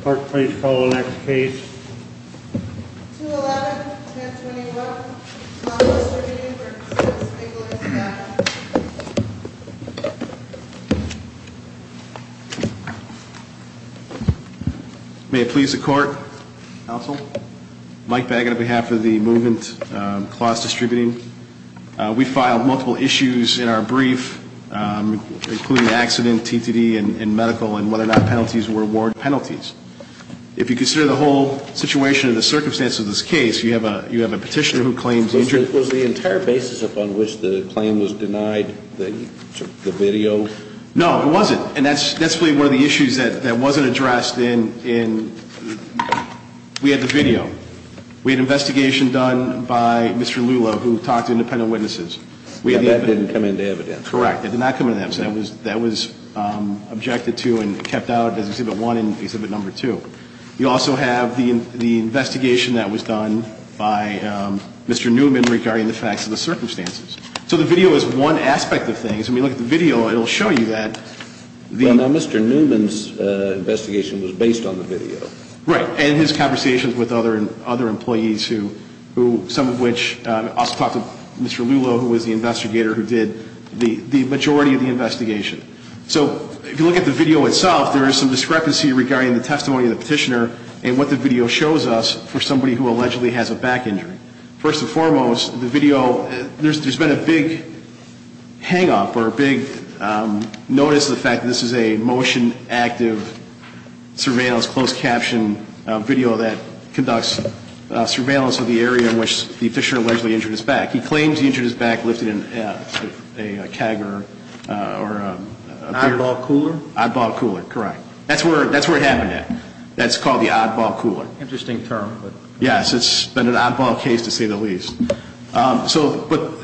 Clerk, please call the next case. 2-11-1021. May it please the Court. Counsel. Mike Baggett on behalf of the movement, Closs Distributing. We filed multiple issues in our brief, including accident, TTD, and medical, and whether or not penalties were award penalties. If you consider the whole situation and the circumstances of this case, you have a petitioner who claims injury. Was the entire basis upon which the claim was denied the video? No, it wasn't. And that's really one of the issues that wasn't addressed in – we had the video. We had an investigation done by Mr. Lula, who talked to independent witnesses. And that didn't come into evidence? Correct. It did not come into evidence. That was – that was objected to and kept out as Exhibit 1 and Exhibit No. 2. You also have the investigation that was done by Mr. Newman regarding the facts of the circumstances. So the video is one aspect of things. I mean, look at the video. It will show you that the – But now Mr. Newman's investigation was based on the video. Right. And his conversations with other employees who – some of which also talked to Mr. Lula, who was the investigator who did the majority of the investigation. So if you look at the video itself, there is some discrepancy regarding the testimony of the petitioner and what the video shows us for somebody who allegedly has a back injury. First and foremost, the video – there's been a big hang-up or a big notice of the fact that this is a motion-active surveillance, a closed-caption video that conducts surveillance of the area in which the petitioner allegedly injured his back. He claims he injured his back lifting a keg or a – An oddball cooler? Oddball cooler. Correct. That's where it happened at. That's called the oddball cooler. Interesting term. Yes. It's been an oddball case, to say the least. So – but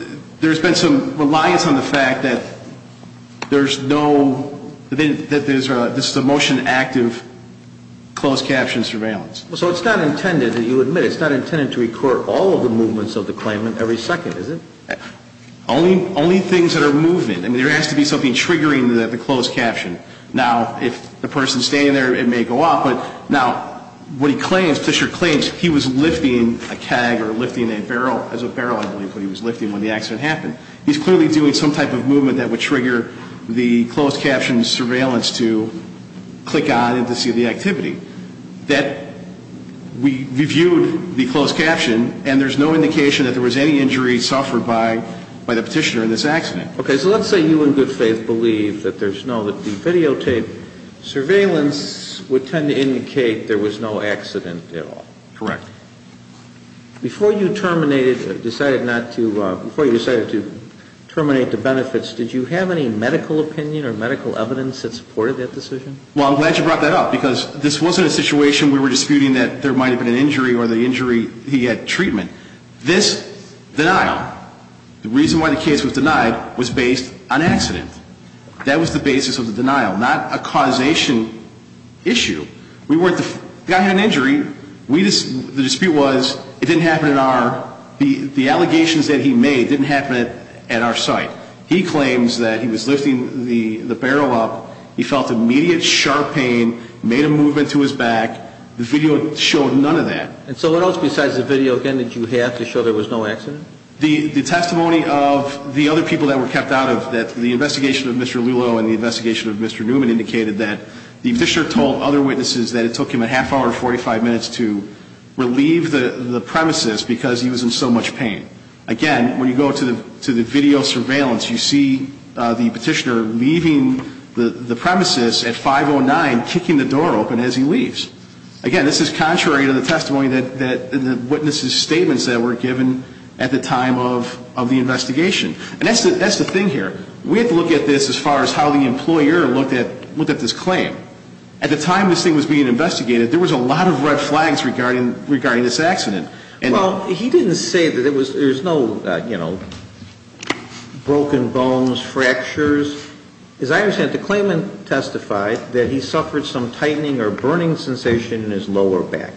there's been some reliance on the fact that there's no – that this is a motion-active closed-caption surveillance. So it's not intended – and you admit it – it's not intended to record all of the movements of the claimant every second, is it? Only things that are movement. I mean, there has to be something triggering the closed-caption. Now, if the person's standing there, it may go off. But now, what he claims – Petitioner claims he was lifting a keg or lifting a barrel. It was a barrel, I believe, that he was lifting when the accident happened. He's clearly doing some type of movement that would trigger the closed-caption surveillance to click on and to see the activity. That – we reviewed the closed-caption, and there's no indication that there was any injury suffered by the petitioner in this accident. Okay. So let's say you in good faith believe that there's no – that the videotaped surveillance would tend to indicate there was no accident at all. Correct. Before you terminated – decided not to – before you decided to terminate the benefits, did you have any medical opinion or medical evidence that supported that decision? Well, I'm glad you brought that up, because this wasn't a situation we were disputing that there might have been an injury or the injury – he had treatment. This denial, the reason why the case was denied, was based on accident. That was the basis of the denial, not a causation issue. We weren't – the guy had an injury. We – the dispute was it didn't happen at our – the allegations that he made didn't happen at our site. He claims that he was lifting the barrel up. He felt immediate, sharp pain, made a movement to his back. The video showed none of that. And so what else besides the video, again, did you have to show there was no accident? The – the testimony of the other people that were kept out of – that the investigation of Mr. Lulow and the investigation of Mr. Newman indicated that the petitioner told other witnesses that it took him a half hour and 45 minutes to relieve the – the premises because he was in so much pain. Again, when you go to the – to the video surveillance, you see the petitioner leaving the – the premises at 509, kicking the door open as he leaves. Again, this is contrary to the testimony that – that the witnesses' statements that were given at the time of – of the investigation. And that's the – that's the thing here. We have to look at this as far as how the employer looked at – looked at this claim. At the time this thing was being investigated, there was a lot of red flags regarding – regarding this accident. Well, he didn't say that it was – there was no, you know, broken bones, fractures. As I understand it, the claimant testified that he suffered some tightening or burning sensation in his lower back.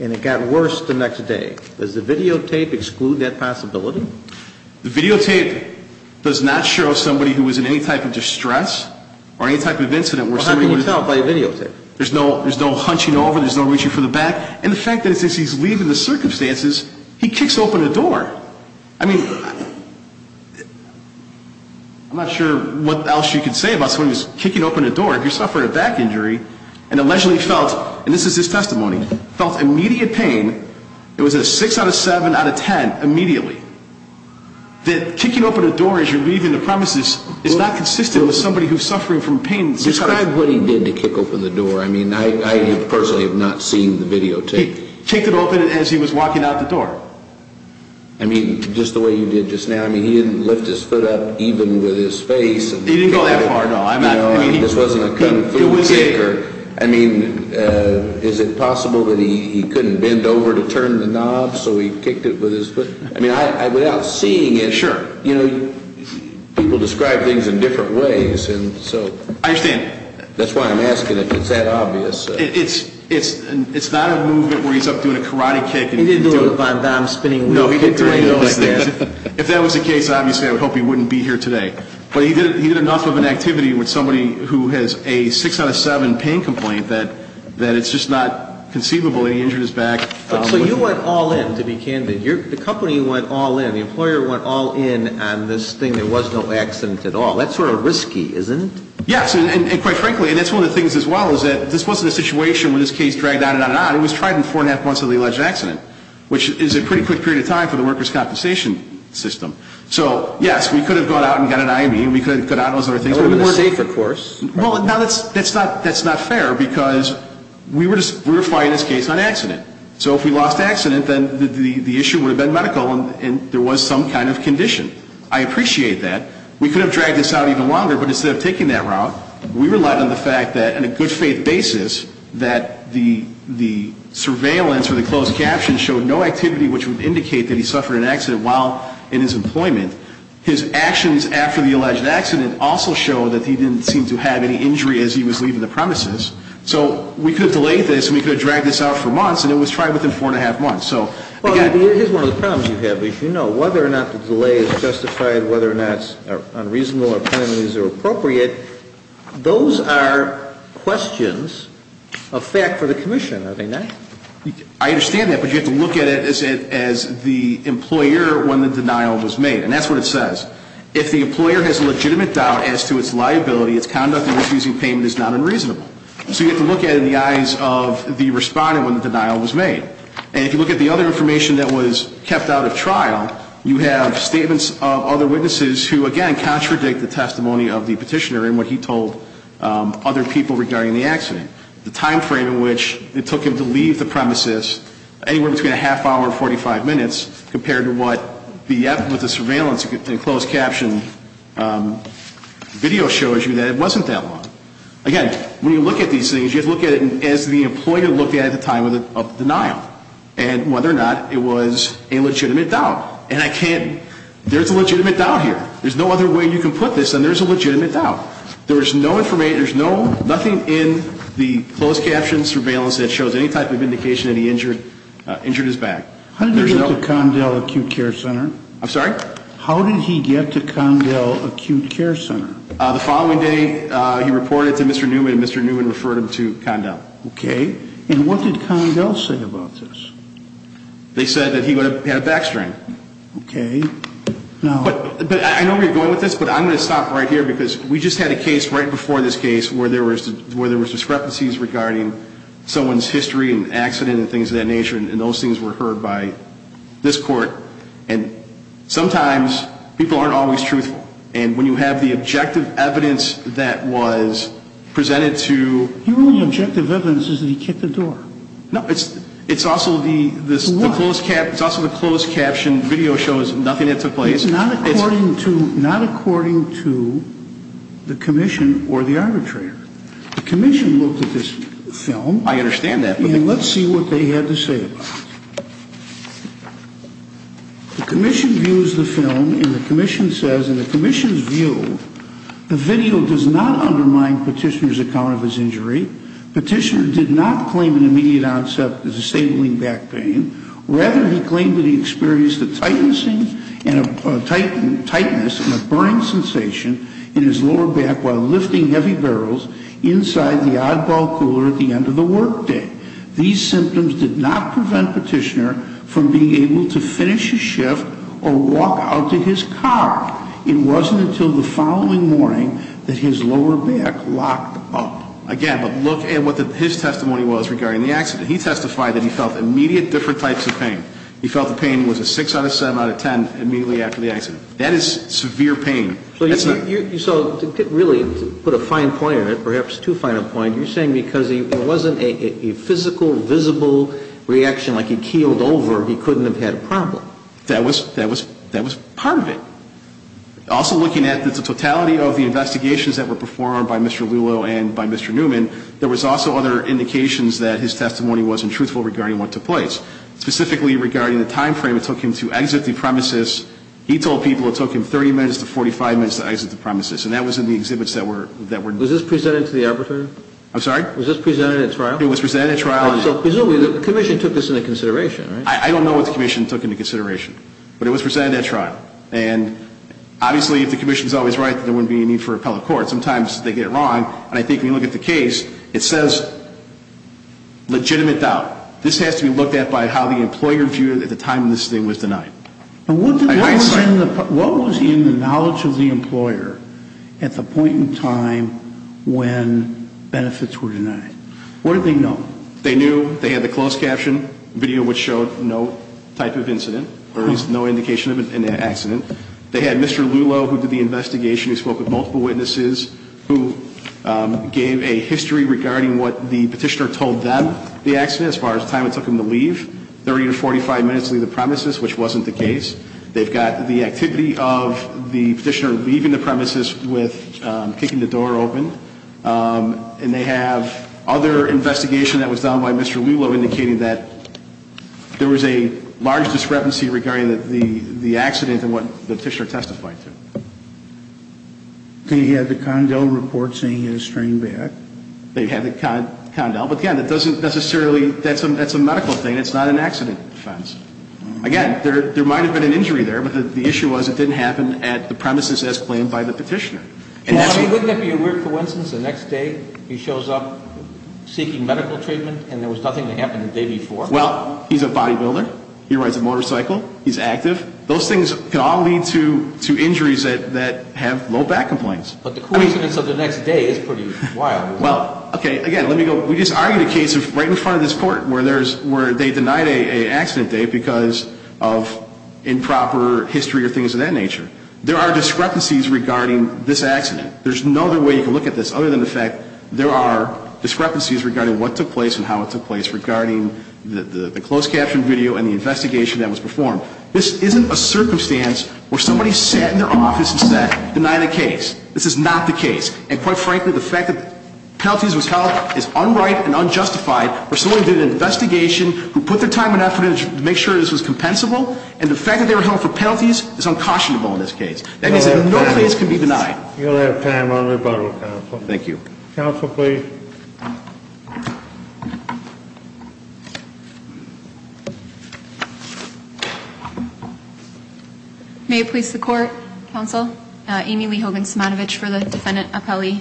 And it got worse the next day. Does the videotape exclude that possibility? The videotape does not show somebody who was in any type of distress or any type of incident where somebody was – Well, how can you tell by a videotape? There's no – there's no hunching over, there's no reaching for the back. And the fact is, as he's leaving the circumstances, he kicks open a door. I mean, I'm not sure what else you could say about somebody who's kicking open a door. If you're suffering a back injury and allegedly felt – and this is his testimony – felt immediate pain, it was a 6 out of 7 out of 10, immediately. That kicking open a door as you're leaving the premises is not consistent with somebody who's suffering from pain. Describe what he did to kick open the door. I mean, I personally have not seen the videotape. He kicked it open as he was walking out the door. I mean, just the way you did just now. I mean, he didn't lift his foot up even with his face. He didn't go that far, no. No, I mean, this wasn't a kung fu kick. It was a – I mean, is it possible that he couldn't bend over to turn the knob, so he kicked it with his foot? I mean, without seeing it – Sure. You know, people describe things in different ways, and so – I understand. That's why I'm asking if it's that obvious. It's – it's not a movement where he's up doing a karate kick. He didn't do a Van Damme spinning – No, he didn't do anything like that. If that was the case, obviously I would hope he wouldn't be here today. But he did enough of an activity with somebody who has a 6 out of 7 pain complaint that it's just not conceivable that he injured his back. So you went all in, to be candid. The company went all in. The employer went all in on this thing. There was no accident at all. That's sort of risky, isn't it? Yes, and quite frankly, and that's one of the things as well, is that this wasn't a situation where this case dragged on and on and on. It was tried in four and a half months of the alleged accident, which is a pretty quick period of time for the workers' compensation system. So, yes, we could have gone out and got an IME. We could have got out and those other things. But it was a safer course. Well, now that's – that's not – that's not fair because we were just – we were fighting this case on accident. So if we lost accident, then the issue would have been medical and there was some kind of condition. I appreciate that. We could have dragged this out even longer, but instead of taking that route, we relied on the fact that, on a good faith basis, that the surveillance or the closed caption showed no activity which would indicate that he suffered an accident while in his employment. His actions after the alleged accident also showed that he didn't seem to have any injury as he was leaving the premises. So we could have delayed this and we could have dragged this out for months, and it was tried within four and a half months. So, again – Well, here's one of the problems you have. If you know whether or not the delay is justified, whether or not it's unreasonable or penalties are appropriate, those are questions of fact for the commission, are they not? I understand that, but you have to look at it as the employer when the denial was made. And that's what it says. If the employer has legitimate doubt as to its liability, its conduct in refusing payment is not unreasonable. So you have to look at it in the eyes of the respondent when the denial was made. And if you look at the other information that was kept out of trial, you have statements of other witnesses who, again, contradict the testimony of the petitioner and what he told other people regarding the accident. The time frame in which it took him to leave the premises, anywhere between a half hour and 45 minutes, compared to what the surveillance and closed caption video shows you, that it wasn't that long. Again, when you look at these things, you have to look at it as the employer looked at it at the time of the denial and whether or not it was a legitimate doubt. And I can't – there's a legitimate doubt here. There's no other way you can put this than there's a legitimate doubt. There was no information – there's nothing in the closed caption surveillance that shows any type of indication that he injured his back. How did he get to Condell Acute Care Center? I'm sorry? How did he get to Condell Acute Care Center? The following day, he reported to Mr. Newman and Mr. Newman referred him to Condell. Okay. And what did Condell say about this? They said that he had a back strain. Okay. But I know where you're going with this, but I'm going to stop right here because we just had a case right before this case where there were discrepancies regarding someone's history and accident and things of that nature, and those things were heard by this court. And sometimes people aren't always truthful. And when you have the objective evidence that was presented to – Your only objective evidence is that he kicked the door. No, it's also the closed caption video shows nothing had took place. It's not according to the commission or the arbitrator. The commission looked at this film. I understand that. Okay, and let's see what they had to say about it. The commission views the film, and the commission says, in the commission's view, the video does not undermine Petitioner's account of his injury. Petitioner did not claim an immediate onset of disabling back pain. Rather, he claimed that he experienced a tightness and a burning sensation in his lower back while lifting heavy barrels inside the oddball cooler at the end of the workday. These symptoms did not prevent Petitioner from being able to finish a shift or walk out to his car. It wasn't until the following morning that his lower back locked up. Again, but look at what his testimony was regarding the accident. He testified that he felt immediate different types of pain. He felt the pain was a 6 out of 7 out of 10 immediately after the accident. That is severe pain. So to really put a fine point on it, perhaps too fine a point, you're saying because it wasn't a physical, visible reaction like he keeled over, he couldn't have had a problem. That was part of it. Also looking at the totality of the investigations that were performed by Mr. Lulow and by Mr. Newman, there was also other indications that his testimony wasn't truthful regarding what took place. Specifically regarding the time frame it took him to exit the premises, he told people it took him 30 minutes to 45 minutes to exit the premises. And that was in the exhibits that were – Was this presented to the arbitrator? I'm sorry? Was this presented at trial? It was presented at trial. So presumably the commission took this into consideration, right? I don't know what the commission took into consideration. But it was presented at trial. And obviously if the commission is always right, there wouldn't be a need for appellate court. Sometimes they get it wrong. And I think when you look at the case, it says legitimate doubt. This has to be looked at by how the employer viewed it at the time this thing was denied. And what was in the knowledge of the employer at the point in time when benefits were denied? What did they know? They knew they had the closed caption video, which showed no type of incident, or at least no indication of an accident. They had Mr. Lulow, who did the investigation, who spoke with multiple witnesses, who gave a history regarding what the petitioner told them the accident as far as the time it took him to leave, 30 to 45 minutes to leave the premises, which wasn't the case. They've got the activity of the petitioner leaving the premises with kicking the door open. And they have other investigation that was done by Mr. Lulow indicating that there was a large discrepancy regarding the accident and what the petitioner testified to. They had the Condell report saying he had a strained back. They had the Condell. But, again, that doesn't necessarily, that's a medical thing. It's not an accident offense. Again, there might have been an injury there, but the issue was it didn't happen at the premises as claimed by the petitioner. Now, wouldn't that be a weird coincidence the next day he shows up seeking medical treatment and there was nothing that happened the day before? Well, he's a bodybuilder. He rides a motorcycle. He's active. Those things can all lead to injuries that have low back complaints. But the coincidence of the next day is pretty wild. Well, okay, again, let me go. We just argued a case right in front of this Court where they denied an accident date because of improper history or things of that nature. There are discrepancies regarding this accident. There's no other way you can look at this other than the fact there are discrepancies regarding what took place and how it took place regarding the closed caption video and the investigation that was performed. This isn't a circumstance where somebody sat in their office and said, deny the case. This is not the case. And, quite frankly, the fact that penalties was held is unright and unjustified for somebody who did an investigation, who put their time and effort in to make sure this was compensable, and the fact that they were held for penalties is uncautionable in this case. That means that no case can be denied. You'll have time on rebuttal, Counsel. Thank you. Counsel, please. May it please the Court, Counsel? Amy Lee Hogan Smatovich for the Defendant Appellee.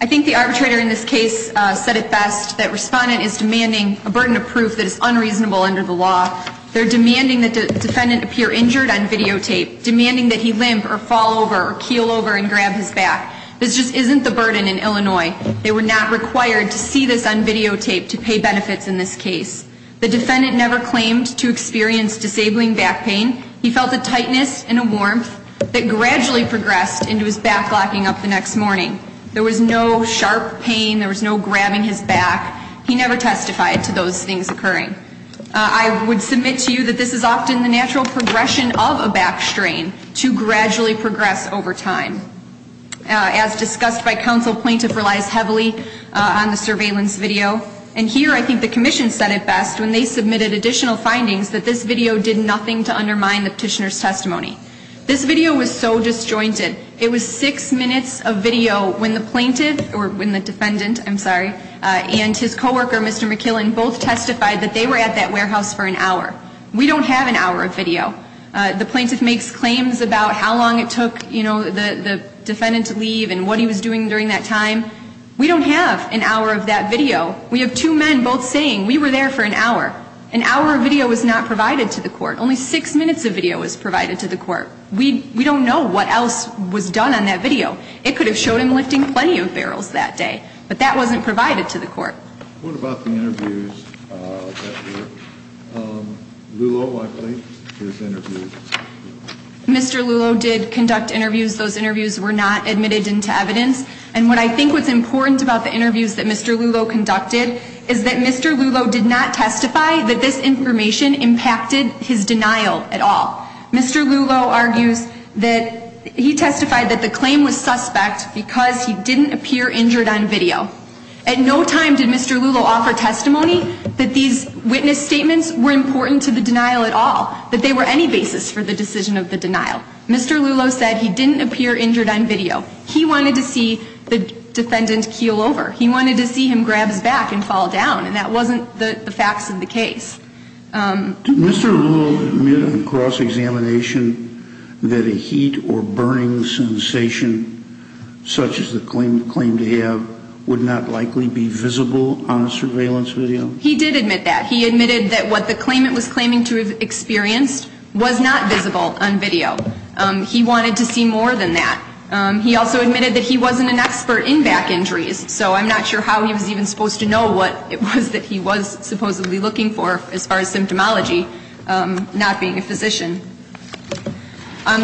I think the arbitrator in this case said it best, that Respondent is demanding a burden of proof that is unreasonable under the law. They're demanding that the Defendant appear injured on videotape, demanding that he limp or fall over or keel over and grab his back. This just isn't the burden in Illinois. They were not required to see the defendant. We see this on videotape to pay benefits in this case. The Defendant never claimed to experience disabling back pain. He felt a tightness and a warmth that gradually progressed into his back locking up the next morning. There was no sharp pain. There was no grabbing his back. He never testified to those things occurring. I would submit to you that this is often the natural progression of a back strain to gradually progress over time. As discussed by Counsel, Plaintiff relies heavily on the surveillance video. And here I think the Commission said it best when they submitted additional findings, that this video did nothing to undermine the Petitioner's testimony. This video was so disjointed. It was six minutes of video when the Plaintiff, or when the Defendant, I'm sorry, and his coworker, Mr. McKillen, both testified that they were at that warehouse for an hour. We don't have an hour of video. The Plaintiff makes claims about how long it took, you know, the Defendant to leave and what he was doing during that time. We don't have an hour of that video. We have two men both saying we were there for an hour. An hour of video was not provided to the Court. Only six minutes of video was provided to the Court. We don't know what else was done on that video. It could have showed him lifting plenty of barrels that day. But that wasn't provided to the Court. What about the interviews that were, Lulow, I believe, his interviews? Mr. Lulow did conduct interviews. Those interviews were not admitted into evidence. And what I think was important about the interviews that Mr. Lulow conducted is that Mr. Lulow did not testify that this information impacted his denial at all. Mr. Lulow argues that he testified that the claim was suspect because he didn't appear injured on video. At no time did Mr. Lulow offer testimony that these witness statements were important to the denial at all, that they were any basis for the decision of the denial. Mr. Lulow said he didn't appear injured on video. He wanted to see the Defendant keel over. He wanted to see him grab his back and fall down. And that wasn't the facts of the case. Did Mr. Lulow admit on cross-examination that a heat or burning sensation, such as the claim to have, would not likely be visible on surveillance video? He did admit that. He admitted that what the claimant was claiming to have experienced was not visible on video. He wanted to see more than that. He also admitted that he wasn't an expert in back injuries, so I'm not sure how he was even supposed to know what it was that he was supposedly looking for, as far as symptomology, not being a physician.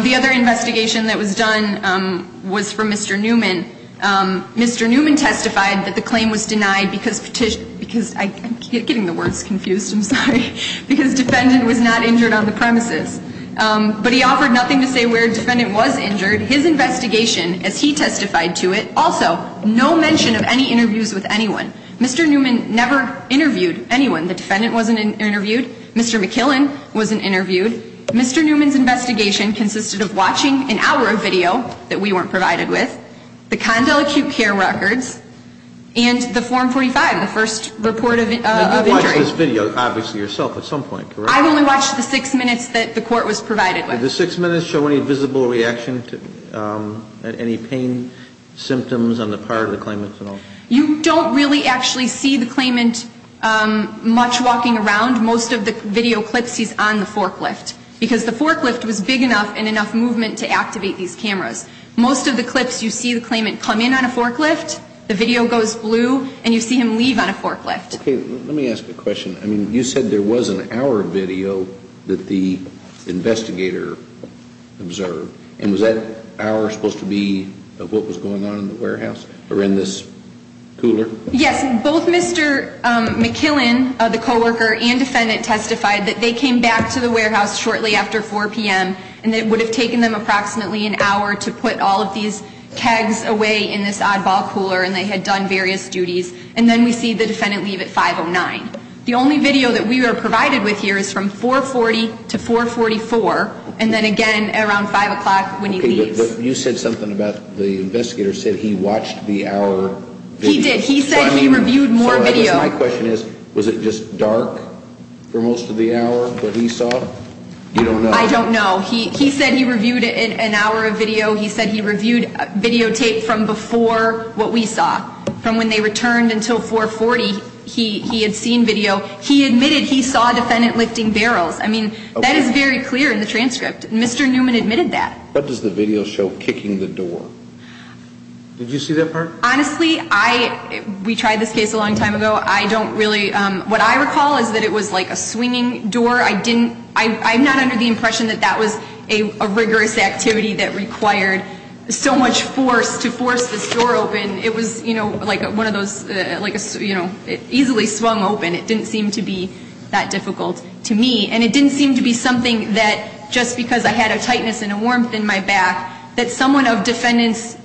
The other investigation that was done was for Mr. Newman. Mr. Newman testified that the claim was denied because petitioned, because I'm getting the words confused, I'm sorry, because Defendant was not injured on the premises. But he offered nothing to say where Defendant was injured. His investigation, as he testified to it, also no mention of any interviews with anyone. Mr. Newman never interviewed anyone. The Defendant wasn't interviewed. Mr. McKillen wasn't interviewed. Mr. Newman's investigation consisted of watching an hour of video that we weren't provided with, the Condell acute care records, and the Form 45, the first report of injury. You watched this video, obviously, yourself at some point, correct? I only watched the six minutes that the court was provided with. Did the six minutes show any visible reaction to any pain symptoms on the part of the claimant at all? You don't really actually see the claimant much walking around. Most of the video clips, he's on the forklift, because the forklift was big enough and enough movement to activate these cameras. Most of the clips, you see the claimant come in on a forklift, the video goes blue, and you see him leave on a forklift. Okay, let me ask a question. I mean, you said there was an hour of video that the investigator observed, and was that hour supposed to be of what was going on in the warehouse or in this cooler? Yes, both Mr. McKillen, the coworker and defendant, testified that they came back to the warehouse shortly after 4 p.m., and it would have taken them approximately an hour to put all of these kegs away in this oddball cooler, and they had done various duties, and then we see the defendant leave at 5.09. The only video that we were provided with here is from 4.40 to 4.44, and then again around 5 o'clock when he leaves. Okay, but you said something about the investigator said he watched the hour video. He did. He said he reviewed more video. So my question is, was it just dark for most of the hour, what he saw? You don't know? I don't know. He said he reviewed an hour of video. He said he reviewed videotape from before what we saw, from when they returned until 4.40 he had seen video. He admitted he saw a defendant lifting barrels. I mean, that is very clear in the transcript. Mr. Newman admitted that. What does the video show kicking the door? Did you see that part? Honestly, I, we tried this case a long time ago. I don't really, what I recall is that it was like a swinging door. I didn't, I'm not under the impression that that was a rigorous activity that required so much force to force this door open. It was, you know, like one of those, like a, you know, easily swung open. It didn't seem to be that difficult to me. And it didn't seem to be something that just because I had a tightness and a warmth in my back that someone of defendant's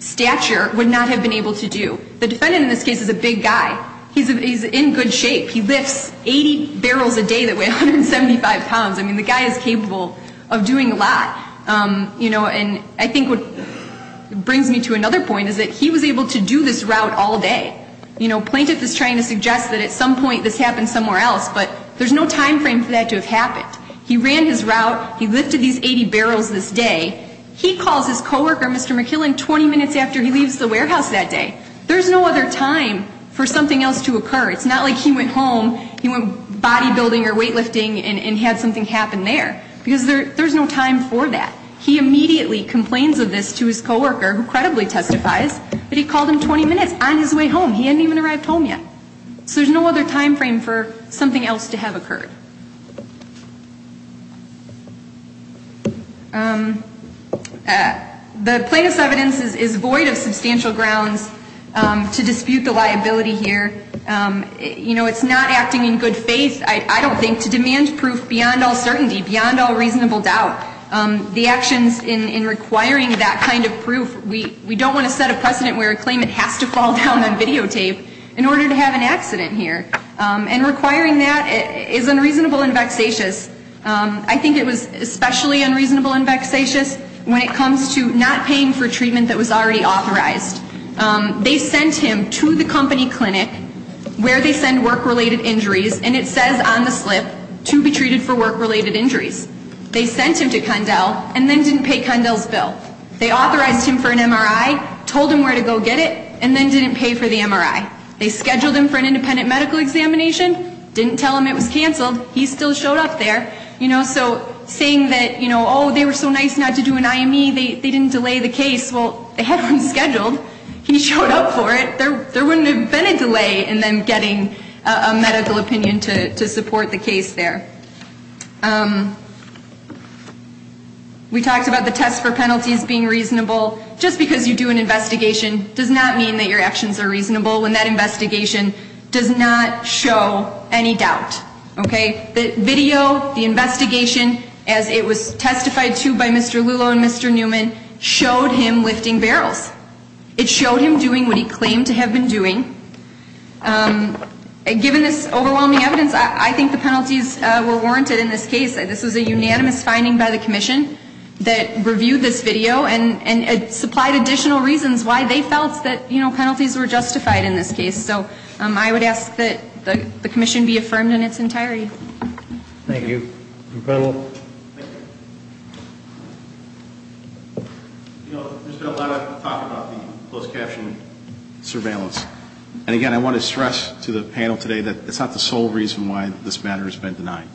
stature would not have been able to do. The defendant in this case is a big guy. He's in good shape. He lifts 80 barrels a day that weigh 175 pounds. I mean, the guy is capable of doing a lot. You know, and I think what brings me to another point is that he was able to do this route all day. You know, plaintiff is trying to suggest that at some point this happened somewhere else, but there's no time frame for that to have happened. He ran his route. He lifted these 80 barrels this day. He calls his coworker, Mr. McKillian, 20 minutes after he leaves the warehouse that day. There's no other time for something else to occur. It's not like he went home, he went body building or weight lifting and had something happen there because there's no time for that. He immediately complains of this to his coworker who credibly testifies, but he called him 20 minutes on his way home. He hadn't even arrived home yet. So there's no other time frame for something else to have occurred. The plaintiff's evidence is void of substantial grounds to dispute the liability here. You know, it's not acting in good faith, I don't think, to demand proof beyond all certainty, beyond all reasonable doubt. The actions in requiring that kind of proof, we don't want to set a precedent where a claimant has to fall down on videotape in order to have an accident here. And requiring that is unreasonable and vexatious. I think it was especially unreasonable and vexatious when it comes to not paying for treatment that was already authorized. They sent him to the company clinic where they send work-related injuries, and it says on the slip to be treated for work-related injuries. They sent him to Condell and then didn't pay Condell's bill. They authorized him for an MRI, told him where to go get it, and then didn't pay for the MRI. They scheduled him for an independent medical examination, didn't tell him it was canceled. He still showed up there. You know, so saying that, you know, oh, they were so nice not to do an IME, they didn't delay the case. Well, they had one scheduled. He showed up for it. There wouldn't have been a delay in them getting a medical opinion to support the case there. We talked about the test for penalties being reasonable. Just because you do an investigation does not mean that your actions are reasonable when that investigation does not show any doubt. Okay? The video, the investigation, as it was testified to by Mr. Lulow and Mr. Newman, showed him lifting barrels. It showed him doing what he claimed to have been doing. Given this overwhelming evidence, I think the penalties were warranted in this case. This was a unanimous finding by the commission that reviewed this video and supplied additional reasons why they felt that, you know, penalties were justified in this case. So I would ask that the commission be affirmed in its entirety. Thank you. Thank you. You know, there's been a lot of talk about the closed caption surveillance. And, again, I want to stress to the panel today that that's not the sole reason why this matter has been denied.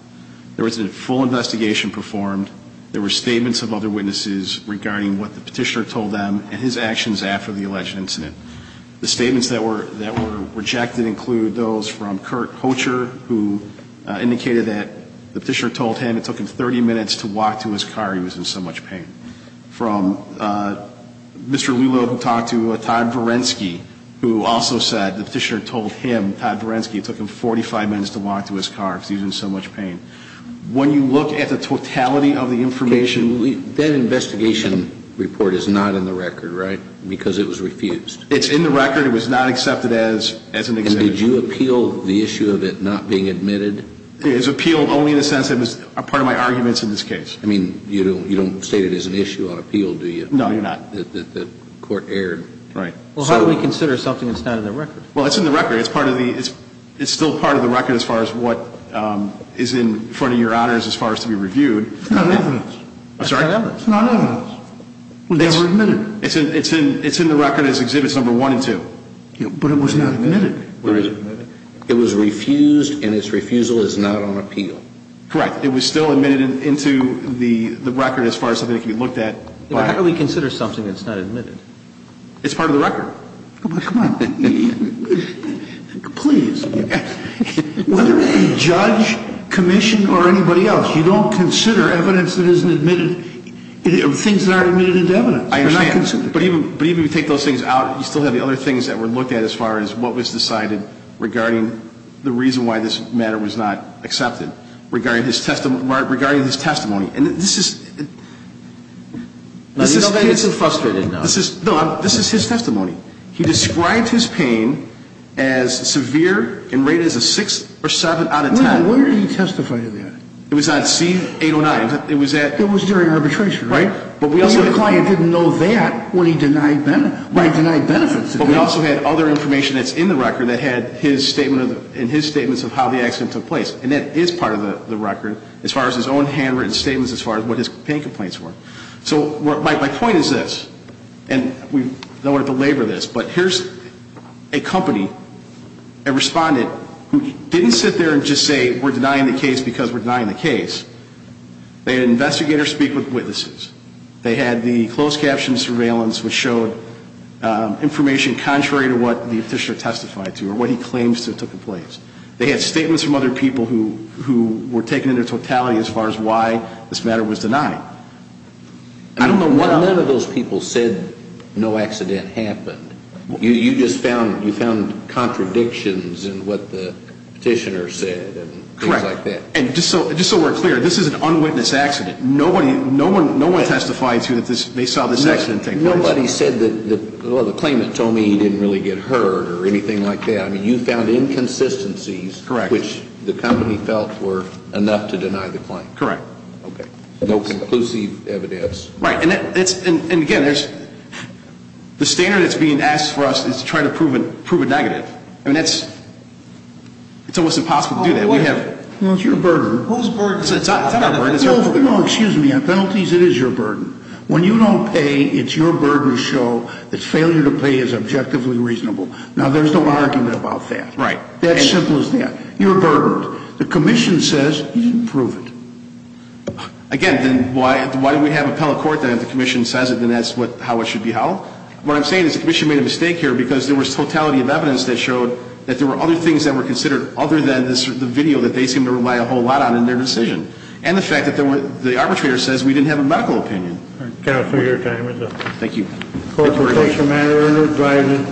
There was a full investigation performed. There were statements of other witnesses regarding what the petitioner told them and his actions after the alleged incident. The statements that were rejected include those from Kurt Hocher, who indicated that the petitioner told him it took him 30 minutes to walk to his car, he was in so much pain. From Mr. Lulow, who talked to Todd Varensky, who also said the petitioner told him, Todd Varensky, it took him 45 minutes to walk to his car, he was in so much pain. When you look at the totality of the information. That investigation report is not in the record, right, because it was refused. It's in the record. It was not accepted as an exhibit. And did you appeal the issue of it not being admitted? It was appealed only in the sense that it was part of my arguments in this case. I mean, you don't state it as an issue on appeal, do you? No, you're not. The court erred. Right. Well, how do we consider something that's not in the record? Well, it's in the record. It's still part of the record as far as what is in front of your honors as far as to be reviewed. It's not evidence. I'm sorry? It's not evidence. It was never admitted. It's in the record as exhibits number one and two. But it was not admitted. It was refused, and its refusal is not on appeal. Correct. It was still admitted into the record as far as something that can be looked at. How do we consider something that's not admitted? It's part of the record. Come on. Please. Whether it be judge, commission, or anybody else, you don't consider evidence that isn't admitted, things that aren't admitted into evidence. But even if you take those things out, you still have the other things that were looked at as far as what was decided regarding the reason why this matter was not accepted, regarding his testimony. And this is his testimony. He described his pain as severe and rated as a 6 or 7 out of 10. Where did he testify to that? It was on C-809. It was during arbitration, right? Your client didn't know that when he denied benefits. But we also had other information that's in the record that had his statement and his statements of how the accident took place. And that is part of the record as far as his own handwritten statements as far as what his pain complaints were. So my point is this, and we don't want to belabor this, but here's a company, a respondent, who didn't sit there and just say we're denying the case because we're denying the case. They had investigators speak with witnesses. They had the closed caption surveillance which showed information contrary to what the petitioner testified to or what he claims to have took place. They had statements from other people who were taken into totality as far as why this matter was denied. I don't know why none of those people said no accident happened. You just found contradictions in what the petitioner said and things like that. Correct. And just so we're clear, this is an unwitnessed accident. No one testified to that they saw this accident take place. Nobody said that the claimant told me he didn't really get hurt or anything like that. I mean, you found inconsistencies which the company felt were enough to deny the claim. Correct. Okay. No conclusive evidence. Right. And again, the standard that's being asked for us is to try to prove a negative. I mean, it's almost impossible to do that. It's your burden. Whose burden? It's not our burden. No, excuse me. On penalties, it is your burden. When you don't pay, it's your burden to show that failure to pay is objectively reasonable. Now, there's no argument about that. Right. That simple as that. You're burdened. The commission says you didn't prove it. Again, then why do we have appellate court that if the commission says it, then that's how it should be held? What I'm saying is the commission made a mistake here because there was totality of evidence that showed that there were other things that were considered other than the video that they seem to rely a whole lot on in their decision. And the fact that the arbitrator says we didn't have a medical opinion. Counsel, your time is up. Thank you. Thank you very much. Court is adjourned.